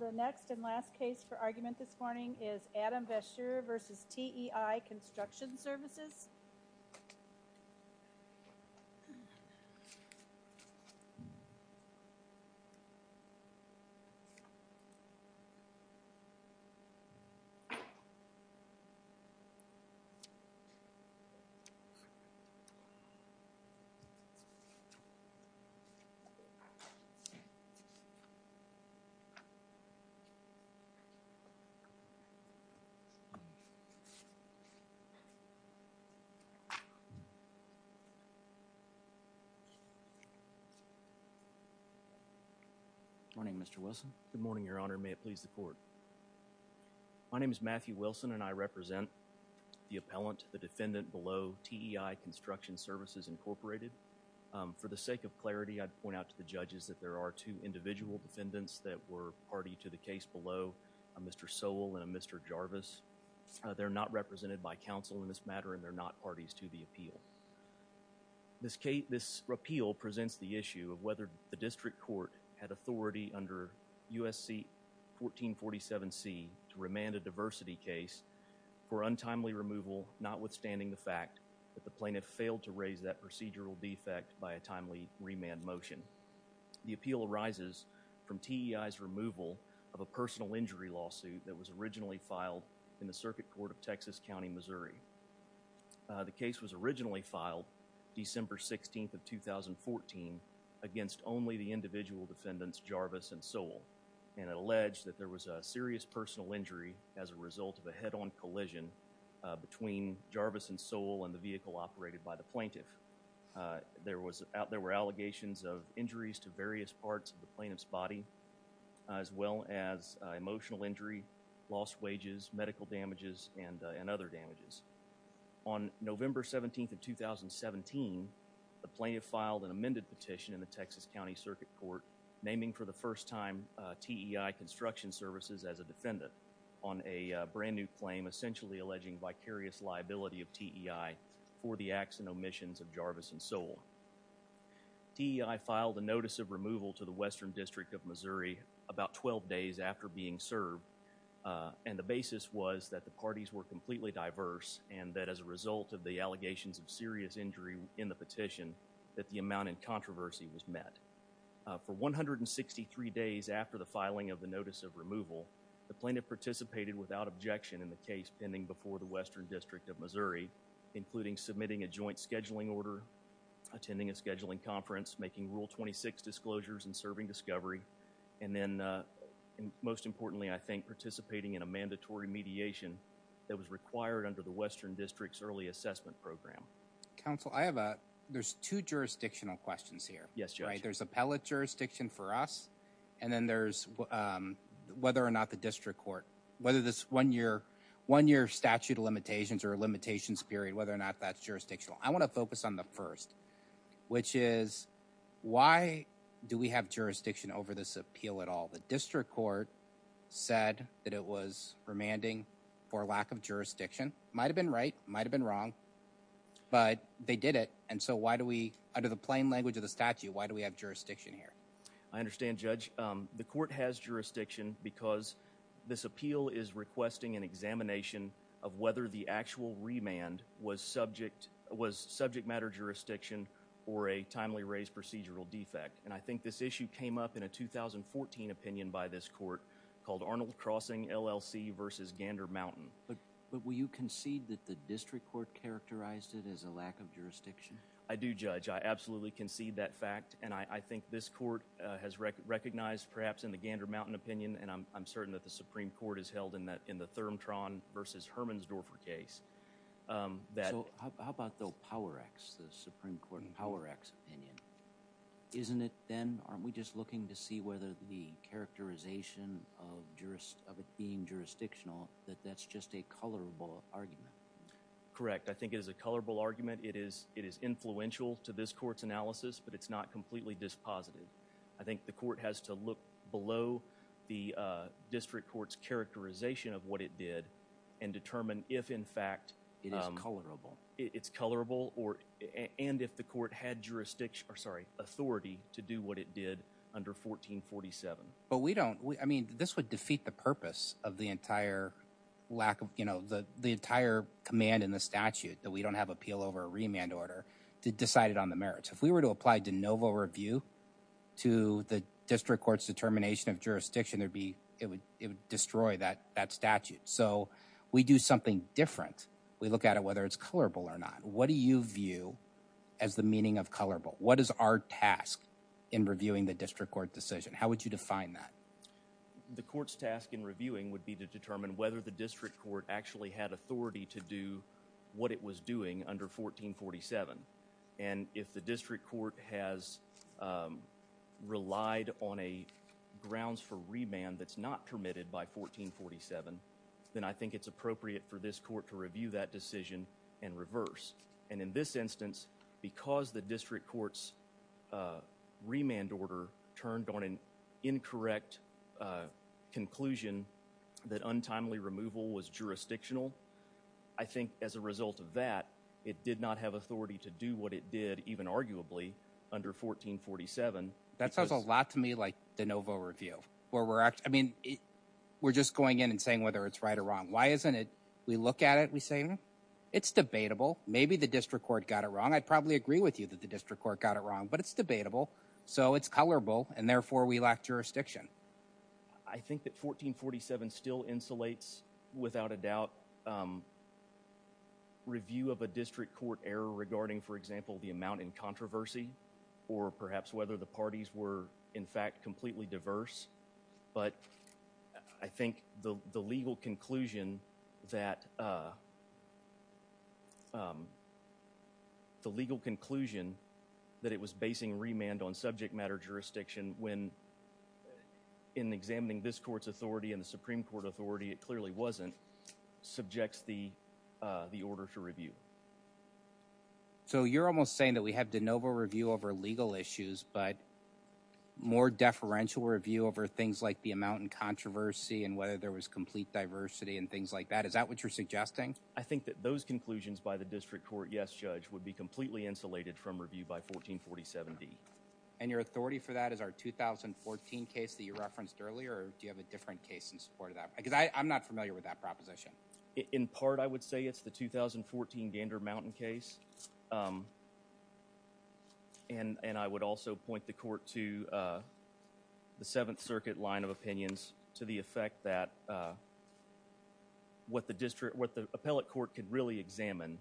The next and last case for argument this morning is Adam Vasseur v. TEI Construction Services Good morning, Mr. Wilson. Good morning, Your Honor. May it please the court. My name is Matthew Wilson and I represent the appellant, the defendant below TEI Construction Services Incorporated. For the sake of clarity, I'd point out to the judges that there are two individual defendants that were party to the case below, a Mr. Sowell and a Mr. Jarvis. They're not represented by counsel in this matter and they're not parties to the appeal. This repeal presents the issue of whether the district court had authority under USC 1447C to remand a diversity case for untimely removal, notwithstanding the fact that the plaintiff failed to raise that procedural defect by a timely remand motion. The appeal arises from TEI's removal of a personal injury lawsuit that was originally filed in the Circuit Court of Texas County, Missouri. The case was originally filed December 16th of 2014 against only the individual defendants, Jarvis and Sowell, and alleged that there was a serious personal injury as a result of a head-on collision between Jarvis and Sowell and the vehicle operated by the plaintiff. There were allegations of injuries to various parts of the plaintiff's body as well as emotional injury, lost wages, medical damages, and other damages. On November 17th of 2017, the plaintiff filed an amended petition in the Texas County Circuit Court naming for the first time TEI Construction Services as a defendant on a brand new claim essentially alleging vicarious liability of TEI for the acts and omissions of Jarvis and Sowell. TEI filed a notice of removal to the Western District of Missouri about 12 days after being served, and the basis was that the parties were completely diverse and that as a result of the allegations of serious injury in the petition that the amount in controversy was met. For 163 days after the filing of the notice of removal, the plaintiff participated without objection in the case pending before the Western District of Missouri, including submitting a joint scheduling order, attending a scheduling conference, making Rule 26 disclosures, and serving discovery, and then most importantly, I think, participating in a mandatory mediation that was required under the Western District's Early Assessment Program. Council, I have a, there's two jurisdictional questions here. Yes, Judge. There's appellate jurisdiction for us, and then there's whether or not the District I want to focus on the first, which is why do we have jurisdiction over this appeal at all? The District Court said that it was remanding for lack of jurisdiction. Might have been right, might have been wrong, but they did it, and so why do we, under the plain language of the statute, why do we have jurisdiction here? I understand, Judge. The court has jurisdiction because this appeal is requesting an examination of whether the actual remand was subject matter jurisdiction or a timely raised procedural defect, and I think this issue came up in a 2014 opinion by this court called Arnold Crossing LLC versus Gander Mountain. But will you concede that the District Court characterized it as a lack of jurisdiction? I do, Judge. I absolutely concede that fact, and I think this court has recognized, perhaps, in the Gander Mountain opinion, and I'm certain that the Supreme Court has held in the Thurmtron versus Hermannsdorfer case that... So how about the Power Act, the Supreme Court Power Act's opinion? Isn't it then, aren't we just looking to see whether the characterization of it being jurisdictional, that that's just a colorable argument? Correct. I think it is a colorable argument. It is influential to this court's analysis, but it's not completely dispositive. I think the court has to look below the District Court's characterization of what it did and determine if, in fact, it's colorable and if the court had jurisdiction, or sorry, authority to do what it did under 1447. But we don't... I mean, this would defeat the purpose of the entire lack of... The entire command in the statute, that we don't have appeal over a remand order, decided on the merits. If we were to apply de novo review to the District Court's determination of jurisdiction, there'd be... It would destroy that statute. So we do something different. We look at it whether it's colorable or not. What do you view as the meaning of colorable? What is our task in reviewing the District Court decision? How would you define that? The court's task in reviewing would be to determine whether the District Court actually had authority to do what it was doing under 1447. And if the District Court has relied on grounds for remand that's not permitted by 1447, then I think it's appropriate for this court to review that decision and reverse. And in this instance, because the District Court's remand order turned on an incorrect conclusion that untimely removal was jurisdictional, I think as a result of that, it did not have authority to do what it did, even arguably, under 1447. That sounds a lot to me like de novo review, where we're actually, I mean, we're just going in and saying whether it's right or wrong. Why isn't it, we look at it, we say, it's debatable. Maybe the District Court got it wrong. I'd probably agree with you that the District Court got it wrong, but it's debatable. So it's colorable, and therefore we lack jurisdiction. I think that 1447 still insulates, without a doubt, review of a District Court error regarding, for example, the amount in controversy, or perhaps whether the parties were in fact completely diverse. But I think the legal conclusion that it was basing remand on subject matter jurisdiction when, in examining this Court's authority and the Supreme Court authority, it clearly wasn't, subjects the order to review. So you're almost saying that we have de novo review over legal issues, but more deferential review over things like the amount in controversy and whether there was complete diversity and things like that. Is that what you're suggesting? I think that those conclusions by the District Court, yes, Judge, would be completely insulated from review by 1447D. And your authority for that is our 2014 case that you referenced earlier, or do you have a different case in support of that? Because I'm not familiar with that proposition. In part, I would say it's the 2014 Gander Mountain case, and I would also point the Court to the Seventh Circuit line of opinions to the effect that what the District, what the Appellate Court could really examine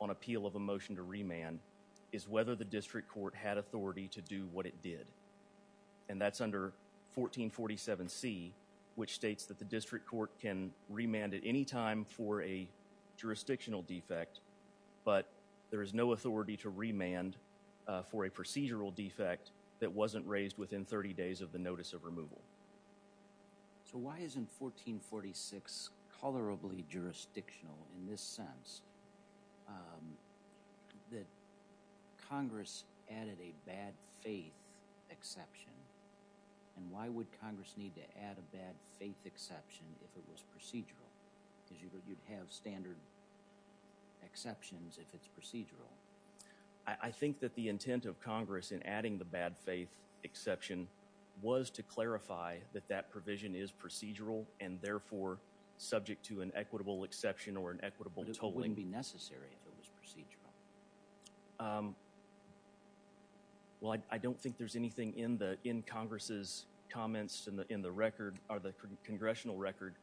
on appeal of a motion to remand is whether the District has the authority to do what it did. And that's under 1447C, which states that the District Court can remand at any time for a jurisdictional defect, but there is no authority to remand for a procedural defect that wasn't raised within 30 days of the notice of removal. So why isn't 1446 colorably jurisdictional in this sense, that Congress added a bad-faith exception, and why would Congress need to add a bad-faith exception if it was procedural? Because you'd have standard exceptions if it's procedural. I think that the intent of Congress in adding the bad-faith exception was to clarify that that provision is procedural and therefore subject to an equitable exception or an equitable But it wouldn't be necessary if it was procedural. Well, I don't think there's anything in Congress's comments in the record, or the Congressional record,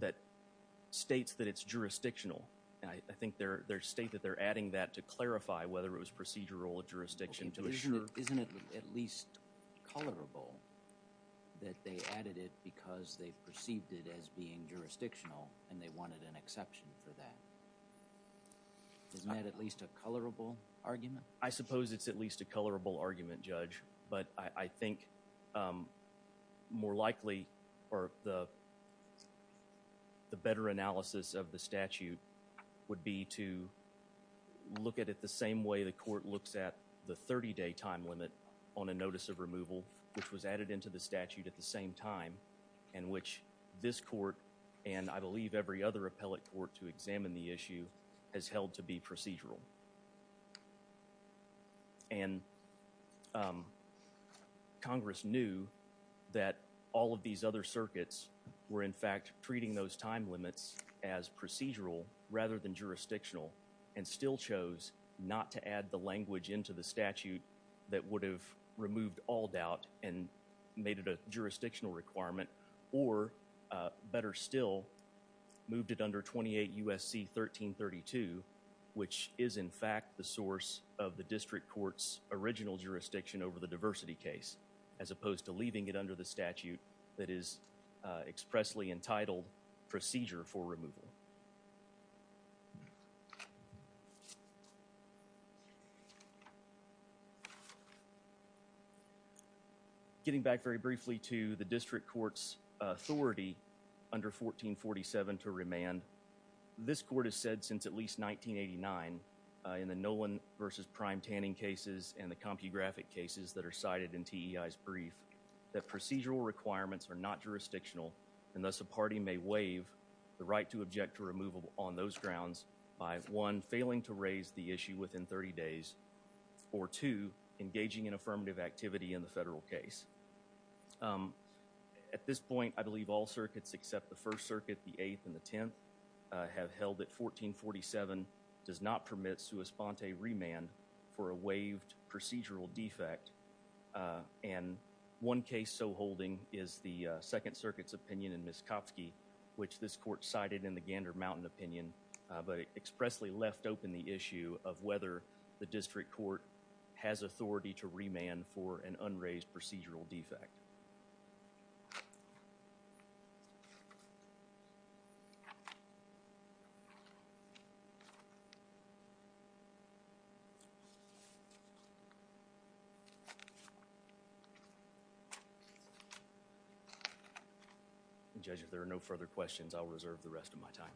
that states that it's jurisdictional. I think they state that they're adding that to clarify whether it was procedural or jurisdiction to assure. Isn't it at least colorable that they added it because they perceived it as being jurisdictional and they wanted an exception for that? Isn't that at least a colorable argument? I suppose it's at least a colorable argument, Judge, but I think more likely, or the better analysis of the statute would be to look at it the same way the court looks at the 30-day time limit on a notice of removal, which was added into the statute at the same time, and which this court, and I believe every other appellate court to examine the issue, has held to be procedural. And Congress knew that all of these other circuits were, in fact, treating those time limits as procedural rather than jurisdictional, and still chose not to add the language into the statute that would have removed all doubt and made it a jurisdictional requirement, or, better still, moved it under 28 U.S.C. 1332, which is, in fact, the source of the district court's original jurisdiction over the diversity case, as opposed to leaving it under the statute that is expressly entitled procedure for removal. Getting back very briefly to the district court's authority under 1447 to remand, this court has said since at least 1989 in the Nolan v. Prime Tanning cases and the CompuGraphic cases that are cited in TEI's brief that procedural requirements are not jurisdictional, and thus a party may waive the right to object to removal on those grounds by, one, failing to raise the issue within 30 days, or, two, engaging in affirmative activity in the federal case. At this point, I believe all circuits except the First Circuit, the Eighth, and the Tenth have held that 1447 does not permit sua sponte remand for a waived procedural defect, and one case so holding is the Second Circuit's opinion in Miskofsky, which this court cited in the Gander Mountain opinion, but expressly left open the issue of whether the district court has authority to remand for an unraised procedural defect. Judge, if there are no further questions, I'll reserve the rest of my time.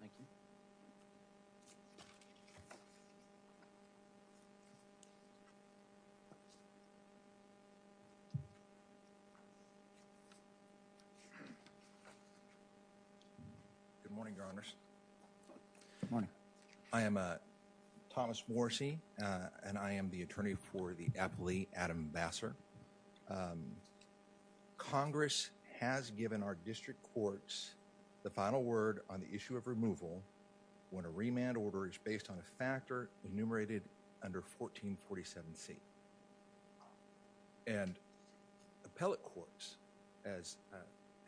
Thank you. Good morning, Your Honors. Good morning. I am Thomas Morrisey, and I am the attorney for the appellee, Adam Vassar. As you know, Congress has given our district courts the final word on the issue of removal when a remand order is based on a factor enumerated under 1447C, and appellate courts, as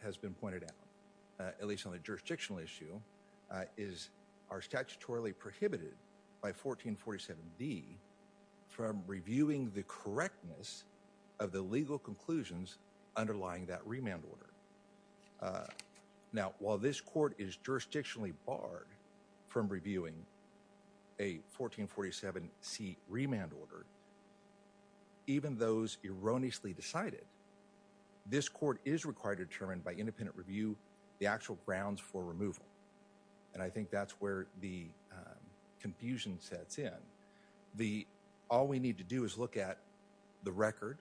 has been pointed out, at least on the jurisdictional issue, are statutorily prohibited by 1447D from reviewing the correctness of the legal conclusions underlying that remand order. Now, while this court is jurisdictionally barred from reviewing a 1447C remand order, even those erroneously decided, this court is required to determine by independent review the actual grounds for removal, and I think that's where the confusion sets in. All we need to do is look at the record,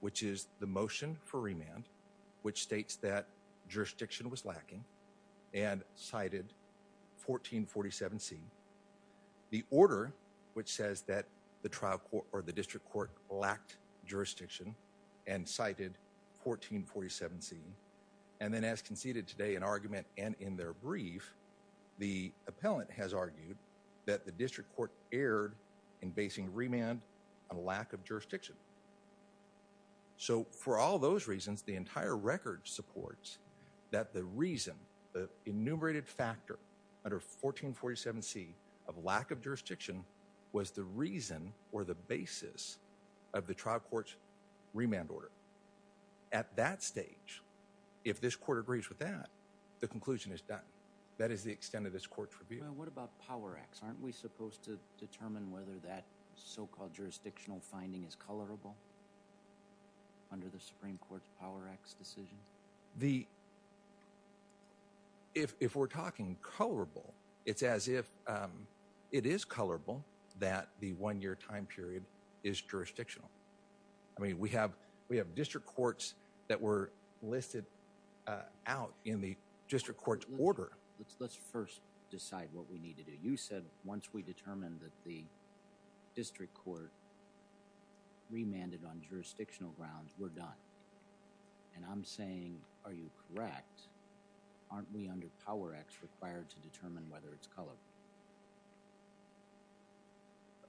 which is the motion for remand, which states that jurisdiction was lacking and cited 1447C, the order, which says that the district court lacked jurisdiction and cited 1447C, and then as conceded today in argument and in their record, in basing remand on lack of jurisdiction. So, for all those reasons, the entire record supports that the reason, the enumerated factor under 1447C of lack of jurisdiction was the reason or the basis of the trial court's remand order. At that stage, if this court agrees with that, the conclusion is done. That is the extent of this court's review. Well, what about Power Acts? Aren't we supposed to determine whether that so-called jurisdictional finding is colorable under the Supreme Court's Power Acts decision? The – if we're talking colorable, it's as if it is colorable that the one-year time period is jurisdictional. I mean, we have district courts that were listed out in the district court's order. Let's first decide what we need to do. You said once we determine that the district court remanded on jurisdictional grounds, we're done. And I'm saying, are you correct? Aren't we under Power Acts required to determine whether it's colorable?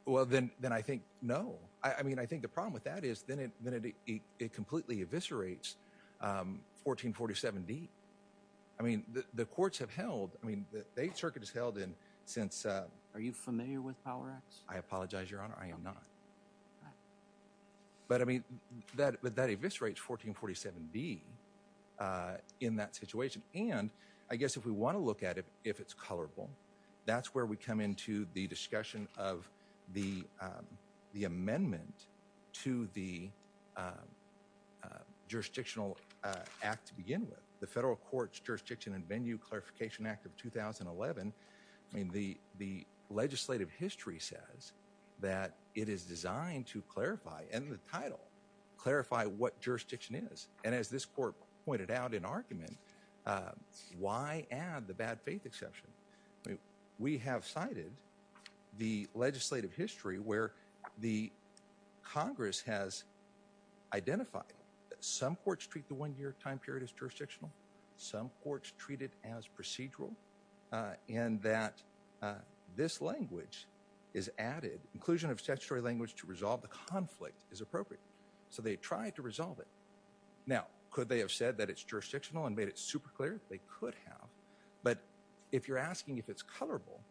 Well, then I think no. I mean, I think the problem with that is then it completely eviscerates 1447D. I mean, the courts have held – I mean, the Eighth Circuit has held in since – Are you familiar with Power Acts? I apologize, Your Honor. I am not. But I mean, that eviscerates 1447D in that situation. And I guess if we want to look at it, if it's colorable, that's where we come into the discussion of the amendment to the jurisdictional act to begin with, the Federal Courts Jurisdiction and Venue Clarification Act of 2011. I mean, the legislative history says that it is designed to clarify, and the title, clarify what jurisdiction is. And as this court pointed out in argument, why add the bad faith exception? We have cited the legislative history where the Congress has identified that some courts treat the one-year time period as jurisdictional, some courts treat it as procedural, and that this language is added. Inclusion of statutory language to resolve the conflict is appropriate. So they tried to resolve it. Now, could they have said that it's jurisdictional and made it super clear? They could have. But if you're asking if it's colorable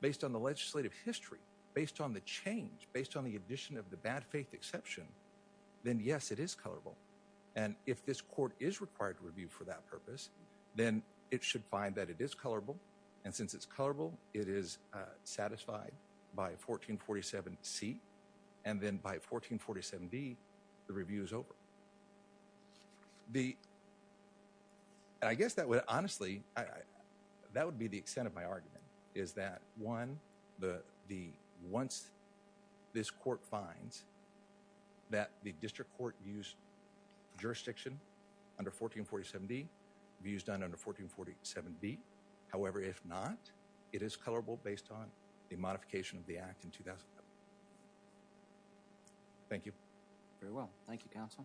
based on the legislative history, based on the change, based on the addition of the bad faith exception, then yes, it is colorable. And if this court is required to review for that purpose, then it should find that it is colorable. And since it's colorable, it is satisfied by 1447C. And then by 1447D, the review is over. The – and I guess that would – honestly, that would be the extent of my argument, is that, one, the – once this court finds that the district court used jurisdiction under 1447D, review is done under 1447B. However, if not, it is colorable based on the modification of the act in 2007. Thank you. Very well. Thank you, Counsel.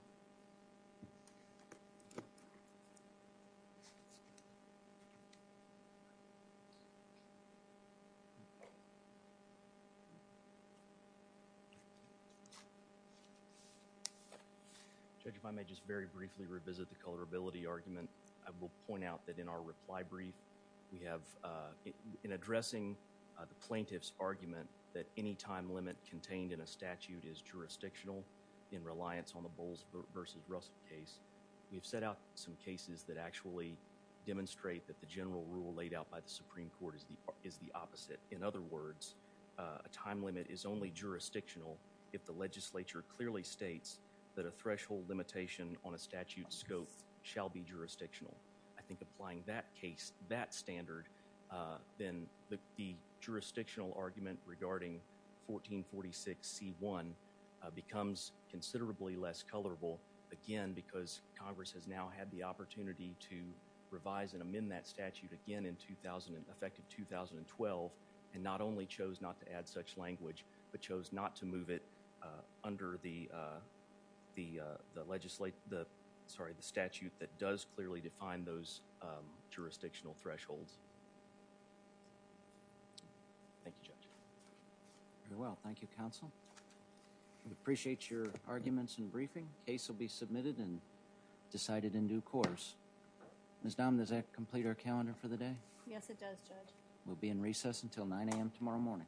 Judge, if I may just very briefly revisit the colorability argument. I will point out that in our reply brief, we have – in addressing the plaintiff's argument that any time limit contained in a statute is jurisdictional in reliance on the Bowles v. Russell case, we have set out some cases that actually demonstrate that the general rule laid out by the Supreme Court is the opposite. In other words, a time limit is only jurisdictional if the legislature clearly states that a threshold limitation on a statute's scope shall be jurisdictional. I think applying that case, that standard, then the jurisdictional argument regarding 1446C1 becomes considerably less colorable, again, because Congress has now had the opportunity to revise and amend that statute again in effect of 2012 and not only chose not to add such language but chose not to move it the statute that does clearly define those jurisdictional thresholds. Thank you, Judge. Very well. Thank you, Counsel. We appreciate your arguments and briefing. The case will be submitted and decided in due course. Ms. Dahm, does that complete our calendar for the day? Yes, it does, Judge. We'll be in recess until 9 a.m. tomorrow morning.